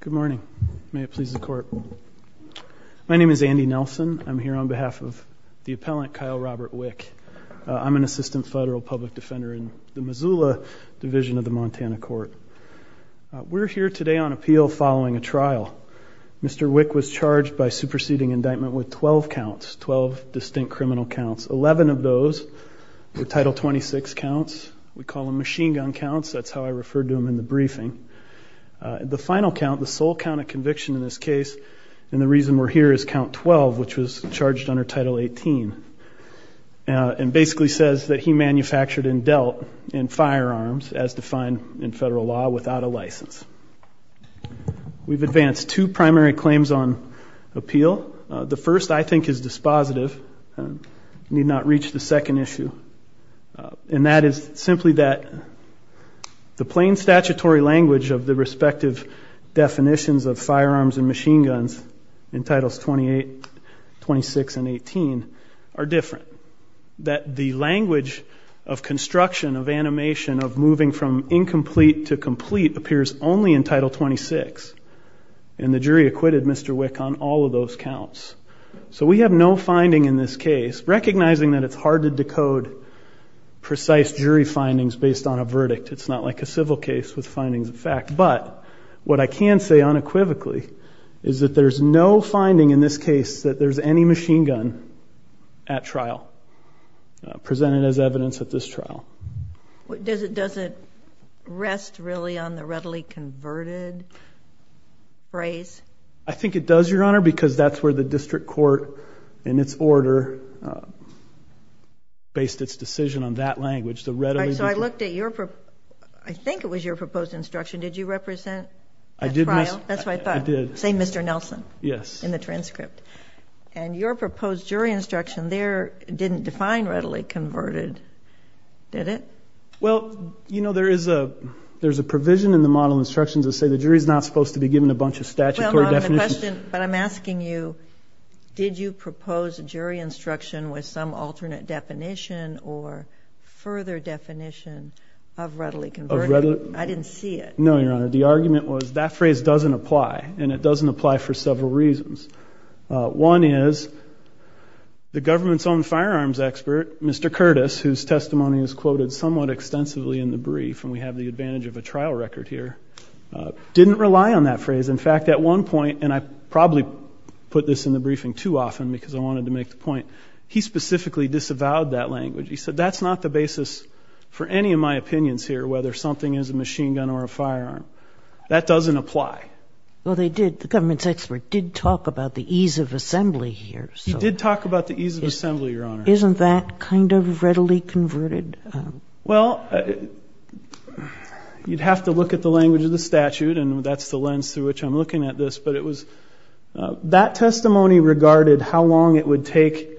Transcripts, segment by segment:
Good morning. May it please the court. My name is Andy Nelson. I'm here on behalf of the appellant Kyle Robert Wick. I'm an assistant federal public defender in the Missoula Division of the Montana Court. We're here today on appeal following a trial. Mr. Wick was charged by superseding indictment with 12 counts, 12 distinct criminal counts. 11 of those were title 26 counts. We call them the final count, the sole count of conviction in this case. And the reason we're here is count 12, which was charged under title 18. And basically says that he manufactured and dealt in firearms as defined in federal law without a license. We've advanced two primary claims on appeal. The first I think is dispositive, need not reach the second issue. And that is simply that the plain statutory language of the respective definitions of firearms and machine guns in titles 28, 26 and 18 are different. That the language of construction, of animation, of moving from incomplete to complete appears only in title 26. And the jury acquitted Mr. Wick on all of those counts. So we have no finding in this case, recognizing that it's hard to decode precise jury findings based on a verdict. It's not like a civil case with findings of fact. But what I can say unequivocally is that there's no finding in this case that there's any machine gun at trial presented as evidence at this trial. Does it does it rest really on the readily converted phrase? I think it does, Your Honor, because that's where the district court in its order based its decision on that language. So I looked at your, I think it was your proposed instruction. Did you represent? I did. That's what I thought. Say Mr. Nelson. Yes. In the transcript. And your proposed jury instruction there didn't define readily converted. Did it? Well, you know, there is a there's a provision in the model instructions that say the jury is not supposed to be given a bunch of statutory definitions. But I'm asking you, did you propose a jury instruction with some alternate definition or further definition of readily converted? I didn't see it. No, Your Honor. The argument was that phrase doesn't apply and it doesn't apply for several reasons. One is the government's own firearms expert, Mr. Curtis, whose testimony is quoted somewhat extensively in the brief, and we have the advantage of a trial record here, didn't rely on that phrase. In fact, at one point, and I probably put this in the briefing too he specifically disavowed that language. He said that's not the basis for any of my opinions here. Whether something is a machine gun or a firearm that doesn't apply. Well, they did. The government's expert did talk about the ease of assembly here. You did talk about the ease of assembly. Your Honor. Isn't that kind of readily converted? Well, you'd have to look at the language of the statute, and that's the lens through which I'm looking at this. But it was that testimony regarded how long it would take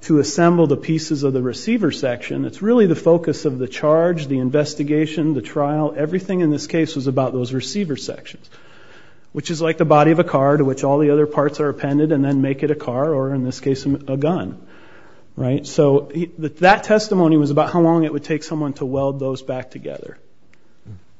to assemble the pieces of the receiver section. It's really the focus of the charge, the investigation, the trial. Everything in this case was about those receiver sections, which is like the body of a car to which all the other parts are appended and then make it a car or in this case a gun, right? So that testimony was about how long it would take someone to weld those back together.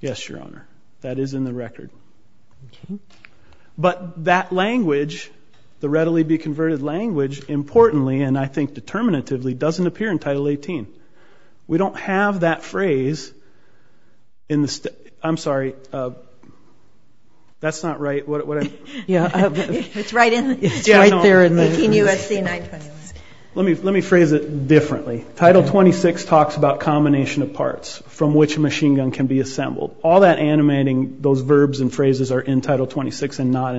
Yes, Your Honor. That is in the statute. But that language, the readily be converted language, importantly, and I think determinatively, doesn't appear in Title 18. We don't have that phrase in the state. I'm sorry. That's not right. What? Yeah, it's right. It's right there in the US. Let me let me phrase it differently. Title 26 talks about combination of parts from which a machine gun can be assembled. All that in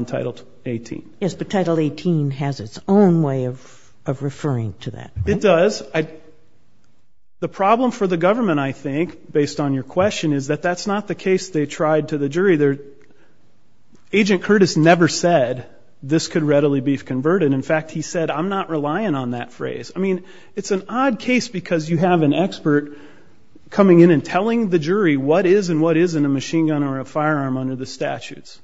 Title 18. Yes, but Title 18 has its own way of referring to that. It does. The problem for the government, I think, based on your question, is that that's not the case they tried to the jury. Agent Curtis never said this could readily be converted. In fact, he said, I'm not relying on that phrase. I mean, it's an odd case because you have an expert coming in and telling the jury what is and what isn't a machine gun or a firearm under the statutes.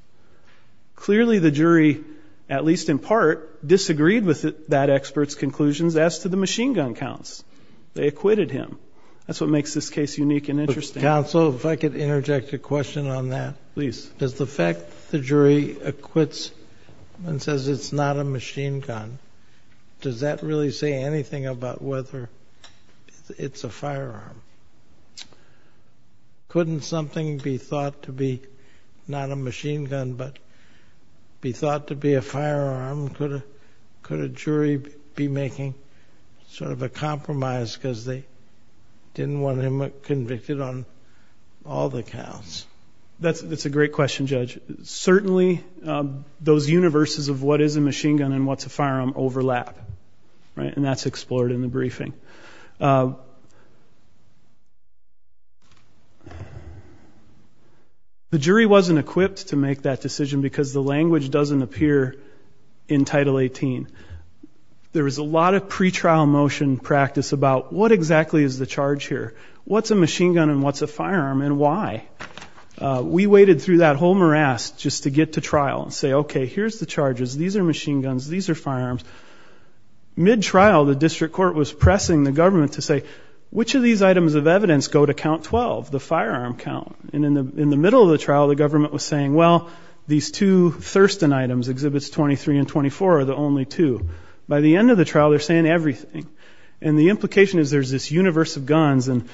Clearly, the jury, at least in part, disagreed with that expert's conclusions as to the machine gun counts. They acquitted him. That's what makes this case unique and interesting. Counsel, if I could interject a question on that. Please. Does the fact the jury acquits and says it's not a machine gun, does that really say anything about whether it's a firearm? Couldn't something be thought to be not a machine gun but be thought to be a firearm? Could a jury be making sort of a compromise because they didn't want him convicted on all the counts? That's a great question, Judge. Certainly, those universes of what is a and that's explored in the briefing. The jury wasn't equipped to make that decision because the language doesn't appear in Title 18. There was a lot of pretrial motion practice about what exactly is the charge here? What's a machine gun and what's a firearm and why? We waited through that whole morass just to get to trial and say, okay, here's the charges. These are machine guns. These are firearms. Mid-trial, the district court was pressing the government to say, which of these items of evidence go to count 12, the firearm count? And in the middle of the trial, the government was saying, well, these two Thurston items, Exhibits 23 and 24, are the only two. By the end of the trial, they're saying everything. And the implication is there's this universe of guns and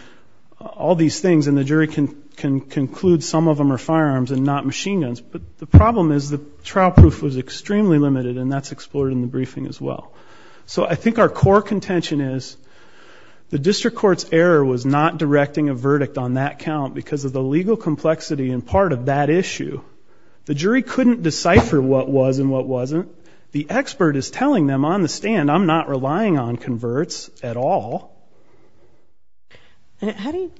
all these things and the jury can conclude some of them are firearms and not machine guns. But the problem is the trial proof was extremely limited and that's explored in the briefing as well. So I think our core contention is the district court's error was not directing a verdict on that count because of the legal complexity and part of that issue. The jury couldn't decipher what was and what wasn't. The expert is telling them on the stand, I'm not relying on converts at all. How do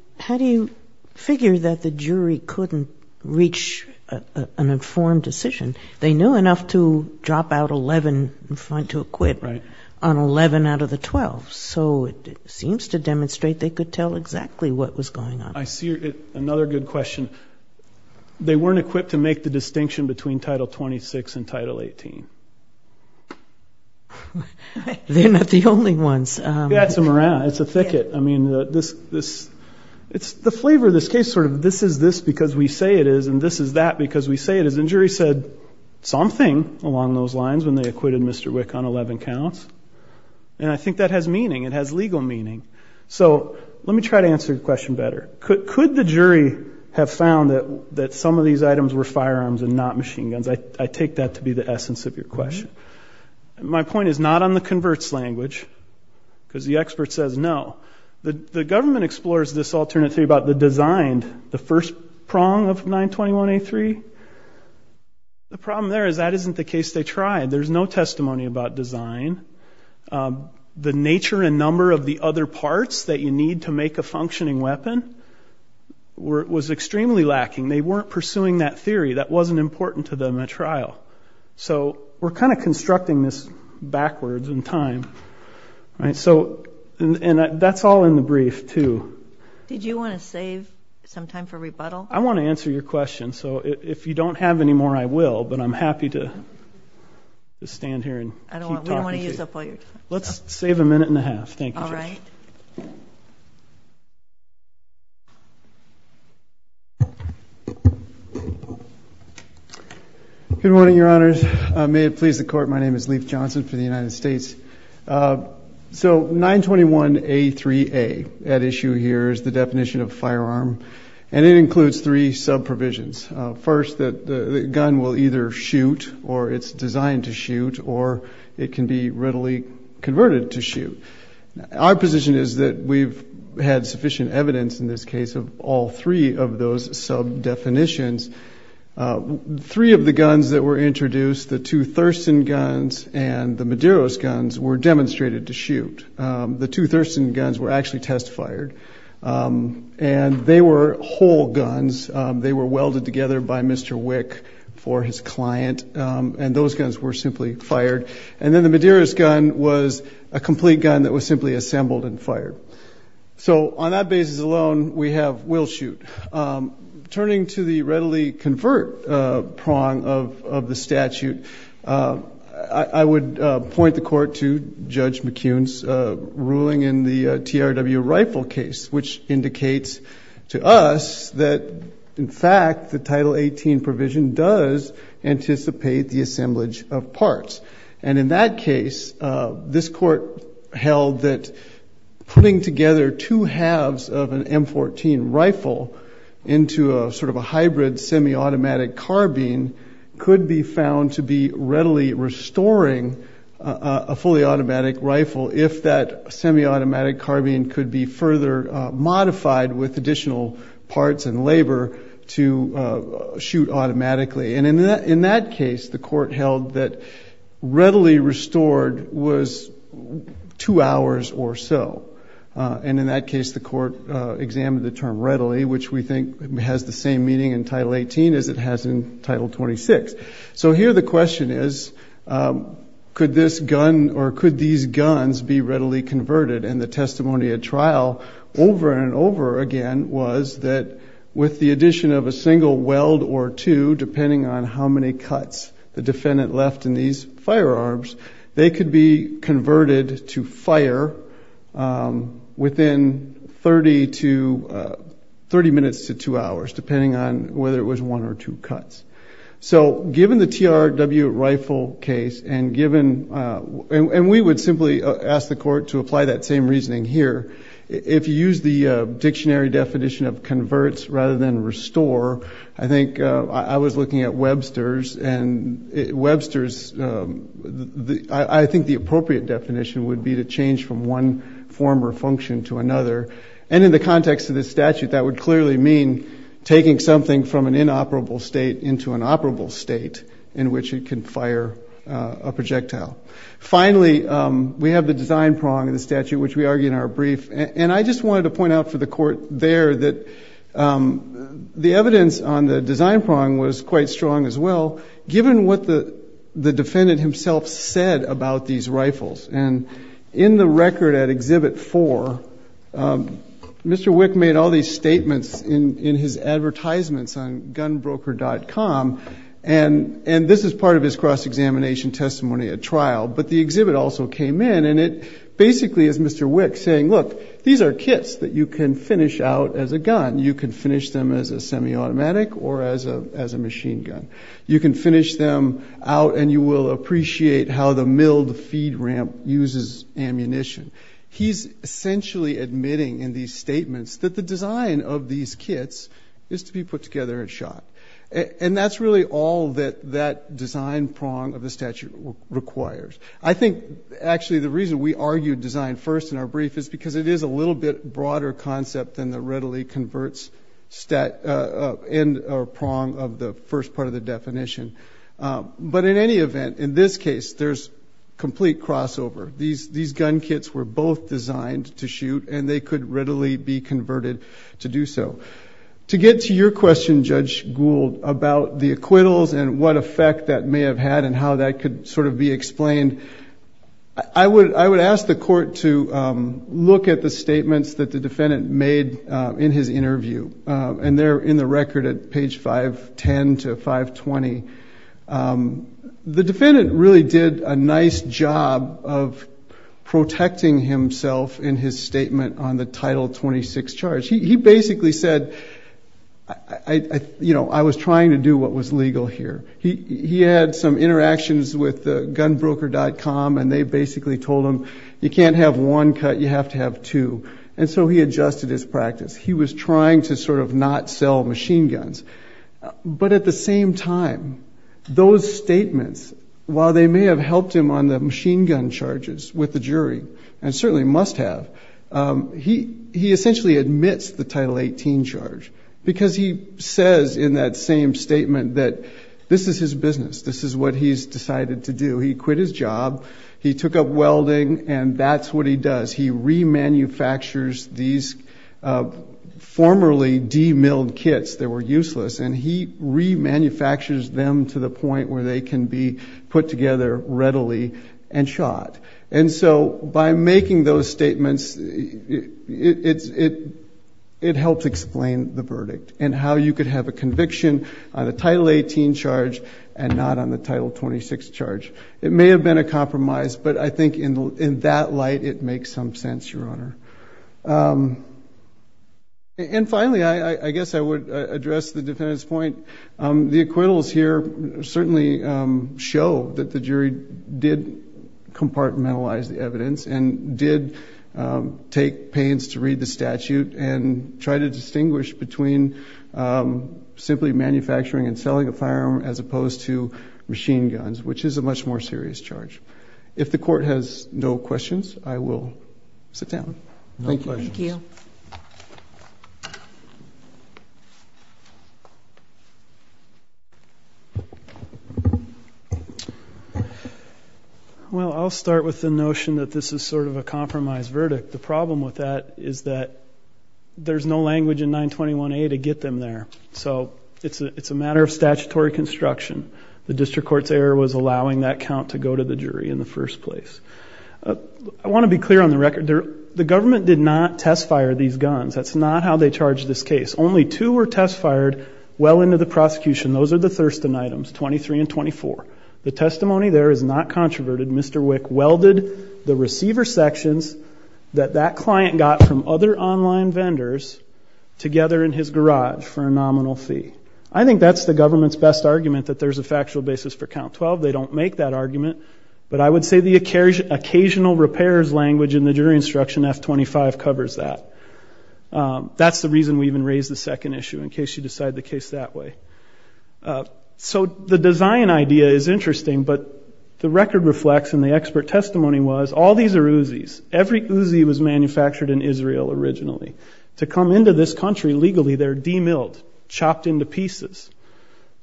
you figure that the jury couldn't reach an informed decision? They knew enough to drop out 11 and find to acquit on 11 out of the 12. So it seems to demonstrate they could tell exactly what was going on. I see another good question. They weren't equipped to make the distinction between title 26 and title 18. They're not the only ones. That's a morale, it's a thicket. I mean, this, this, it's the flavor of this case sort of this is this because we say it is and this is that because we say it is. And jury said something along those lines when they acquitted Mr. Wick on 11 counts. And I think that has meaning, it has legal meaning. So let me try to answer the question better. Could the jury have found that that some of these items were firearms and not machine guns? I take that to be the essence of your question. My point is not on the converts language because the expert says no. The government explores this wrong of 921A3. The problem there is that isn't the case they tried. There's no testimony about design. The nature and number of the other parts that you need to make a functioning weapon was extremely lacking. They weren't pursuing that theory. That wasn't important to them at trial. So we're kind of constructing this backwards in time. And that's all in the brief too. Did you want to save some time for rebuttal? I want to answer your question. So if you don't have any more I will but I'm happy to stand here and let's save a minute and a half. Thank you. Good morning, Your Honors. May it please the court, my name is Leif Johnson for the Department of Justice. What you see here is the definition of firearm and it includes three sub-provisions. First, that the gun will either shoot or it's designed to shoot or it can be readily converted to shoot. Our position is that we've had sufficient evidence in this case of all three of those sub-definitions. Three of the guns that were introduced, the two Thurston guns and the Medeiros guns were demonstrated to shoot. The two Thurston guns were actually test fired and they were whole guns. They were welded together by Mr. Wick for his client and those guns were simply fired. And then the Medeiros gun was a complete gun that was simply assembled and fired. So on that basis alone we have will shoot. Turning to the readily convert prong of the statute, I would point the court to Judge McCune's ruling in the TRW rifle case which indicates to us that in fact the Title 18 provision does anticipate the assemblage of parts. And in that case this court held that putting together two halves of an M14 rifle into a sort of a hybrid semi-automatic carbine could be found to be readily restoring a fully automatic rifle if that semi- automatic carbine could be further modified with additional parts and labor to shoot automatically. And in that case the court held that readily restored was two hours or so. And in that case the court examined the term readily which we think has the same meaning in Title 18 as it has in Title 26. So here the question is, could this gun or could these guns be readily converted? And the testimony at trial over and over again was that with the addition of a single weld or two, depending on how many cuts the defendant left in these firearms, they could be converted to fire within 30 minutes to two hours depending on whether it was one or two cuts. So given the TRW rifle case and given, and we would simply ask the court to apply that same reasoning here, if you use the dictionary definition of converts rather than restore, I think I was looking at Webster's and Webster's, I think the appropriate definition would be to change from one form or function to taking something from an inoperable state into an operable state in which it can fire a projectile. Finally, we have the design prong of the statute which we argue in our brief. And I just wanted to point out for the court there that the evidence on the design prong was quite strong as well given what the defendant himself said about these rifles. And in the record at Exhibit 4, Mr. Wick made all these statements in his advertisements on GunBroker.com and this is part of his cross-examination testimony at trial. But the exhibit also came in and it basically is Mr. Wick saying, look, these are kits that you can finish out as a gun. You can finish them as a semi-automatic or as a machine gun. You can finish them out and you will appreciate how the milled feed ramp uses ammunition. He's essentially admitting in these statements that the design of these kits is to be put together and shot. And that's really all that that design prong of the statute requires. I think actually the reason we argued design first in our brief is because it is a little bit broader concept than the readily converts stat and prong of the first part of the definition. But in any event, in this case, there's complete crossover. These gun kits were both designed to be converted and they could readily be converted to do so. To get to your question, Judge Gould, about the acquittals and what effect that may have had and how that could sort of be explained, I would ask the court to look at the statements that the defendant made in his interview. And they're in the record at page 510 to 520. The defendant really did a nice job of protecting himself in his statement on the Title 26 charge. He basically said, you know, I was trying to do what was legal here. He had some interactions with the gunbroker.com and they basically told him you can't have one cut, you have to have two. And so he adjusted his practice. He was trying to sort of not sell machine guns. But at the same time, those statements, while they may have helped him on the machine gun charges with the jury, and certainly must have, he essentially admits the Title 18 charge. Because he says in that same statement that this is his business, this is what he's decided to do. He quit his job, he took up welding, and that's what he does. He remanufactures these formerly demilled kits that were useless and he remanufactures them to the point where they can be put together readily and shot. And so by making those statements, it helps explain the verdict and how you could have a conviction on a Title 18 charge and not on the Title 26 charge. It may have been a compromise, but I think in that light it makes some sense, Your Honor. And finally, I guess I would address the defendant's point. The acquittals here certainly show that the jury did compartmentalize the evidence and did take pains to read the statute and try to distinguish between simply manufacturing and selling a firearm as opposed to machine guns, which is a much more serious charge. If the court has no questions, I will sit down. Thank you. Well, I'll start with the notion that this is sort of a compromise verdict. The problem with that is that there's no language in 921A to get them there. So it's a matter of statutory construction. The district court's error was allowing that count to go to the jury in the first place. I want to be clear on the record. The government did not test fire these guns. That's not how they charge this case. Only two were test fired well into the prosecution. Those are the Thurston items, 23 and 24. The testimony there is not controverted. Mr. Wick welded the receiver sections that that client got from other online vendors together in his garage for a nominal fee. I think that's the government's best argument, that there's a factual basis for count 12. They don't make that argument, but I would say the occasional repairs language in the jury instruction F-25 covers that. That's the reason we even raised the case that way. So the design idea is interesting, but the record reflects and the expert testimony was all these are Uzi's. Every Uzi was manufactured in Israel originally. To come into this country legally, they're demilled, chopped into pieces.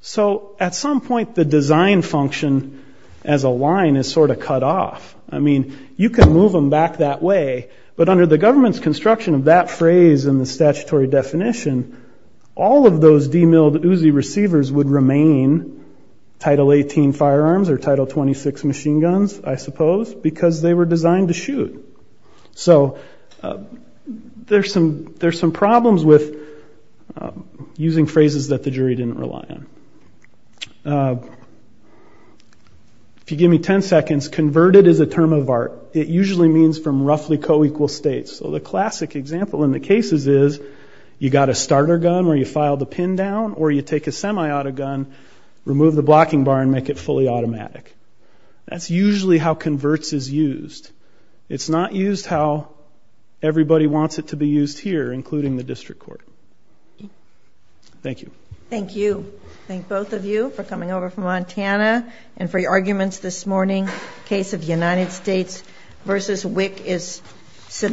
So at some point the design function as a line is sort of cut off. I mean, you can move them back that way, but under the government's construction of that phrase in the statutory definition, all of those demilled Uzi receivers would remain Title 18 firearms or Title 26 machine guns, I suppose, because they were designed to shoot. So there's some problems with using phrases that the jury didn't rely on. If you give me 10 seconds, converted is a term of art. It usually means from roughly co-equal states. So the classic example in the cases is you got a starter gun where you file the pin down or you take a semi-auto gun, remove the blocking bar, and make it fully automatic. That's usually how converts is used. It's not used how everybody wants it to be used here, including the district court. Thank you. Thank you. Thank both of you for coming over from Montana and for your arguments this morning. Case of the United States versus WIC is submitted.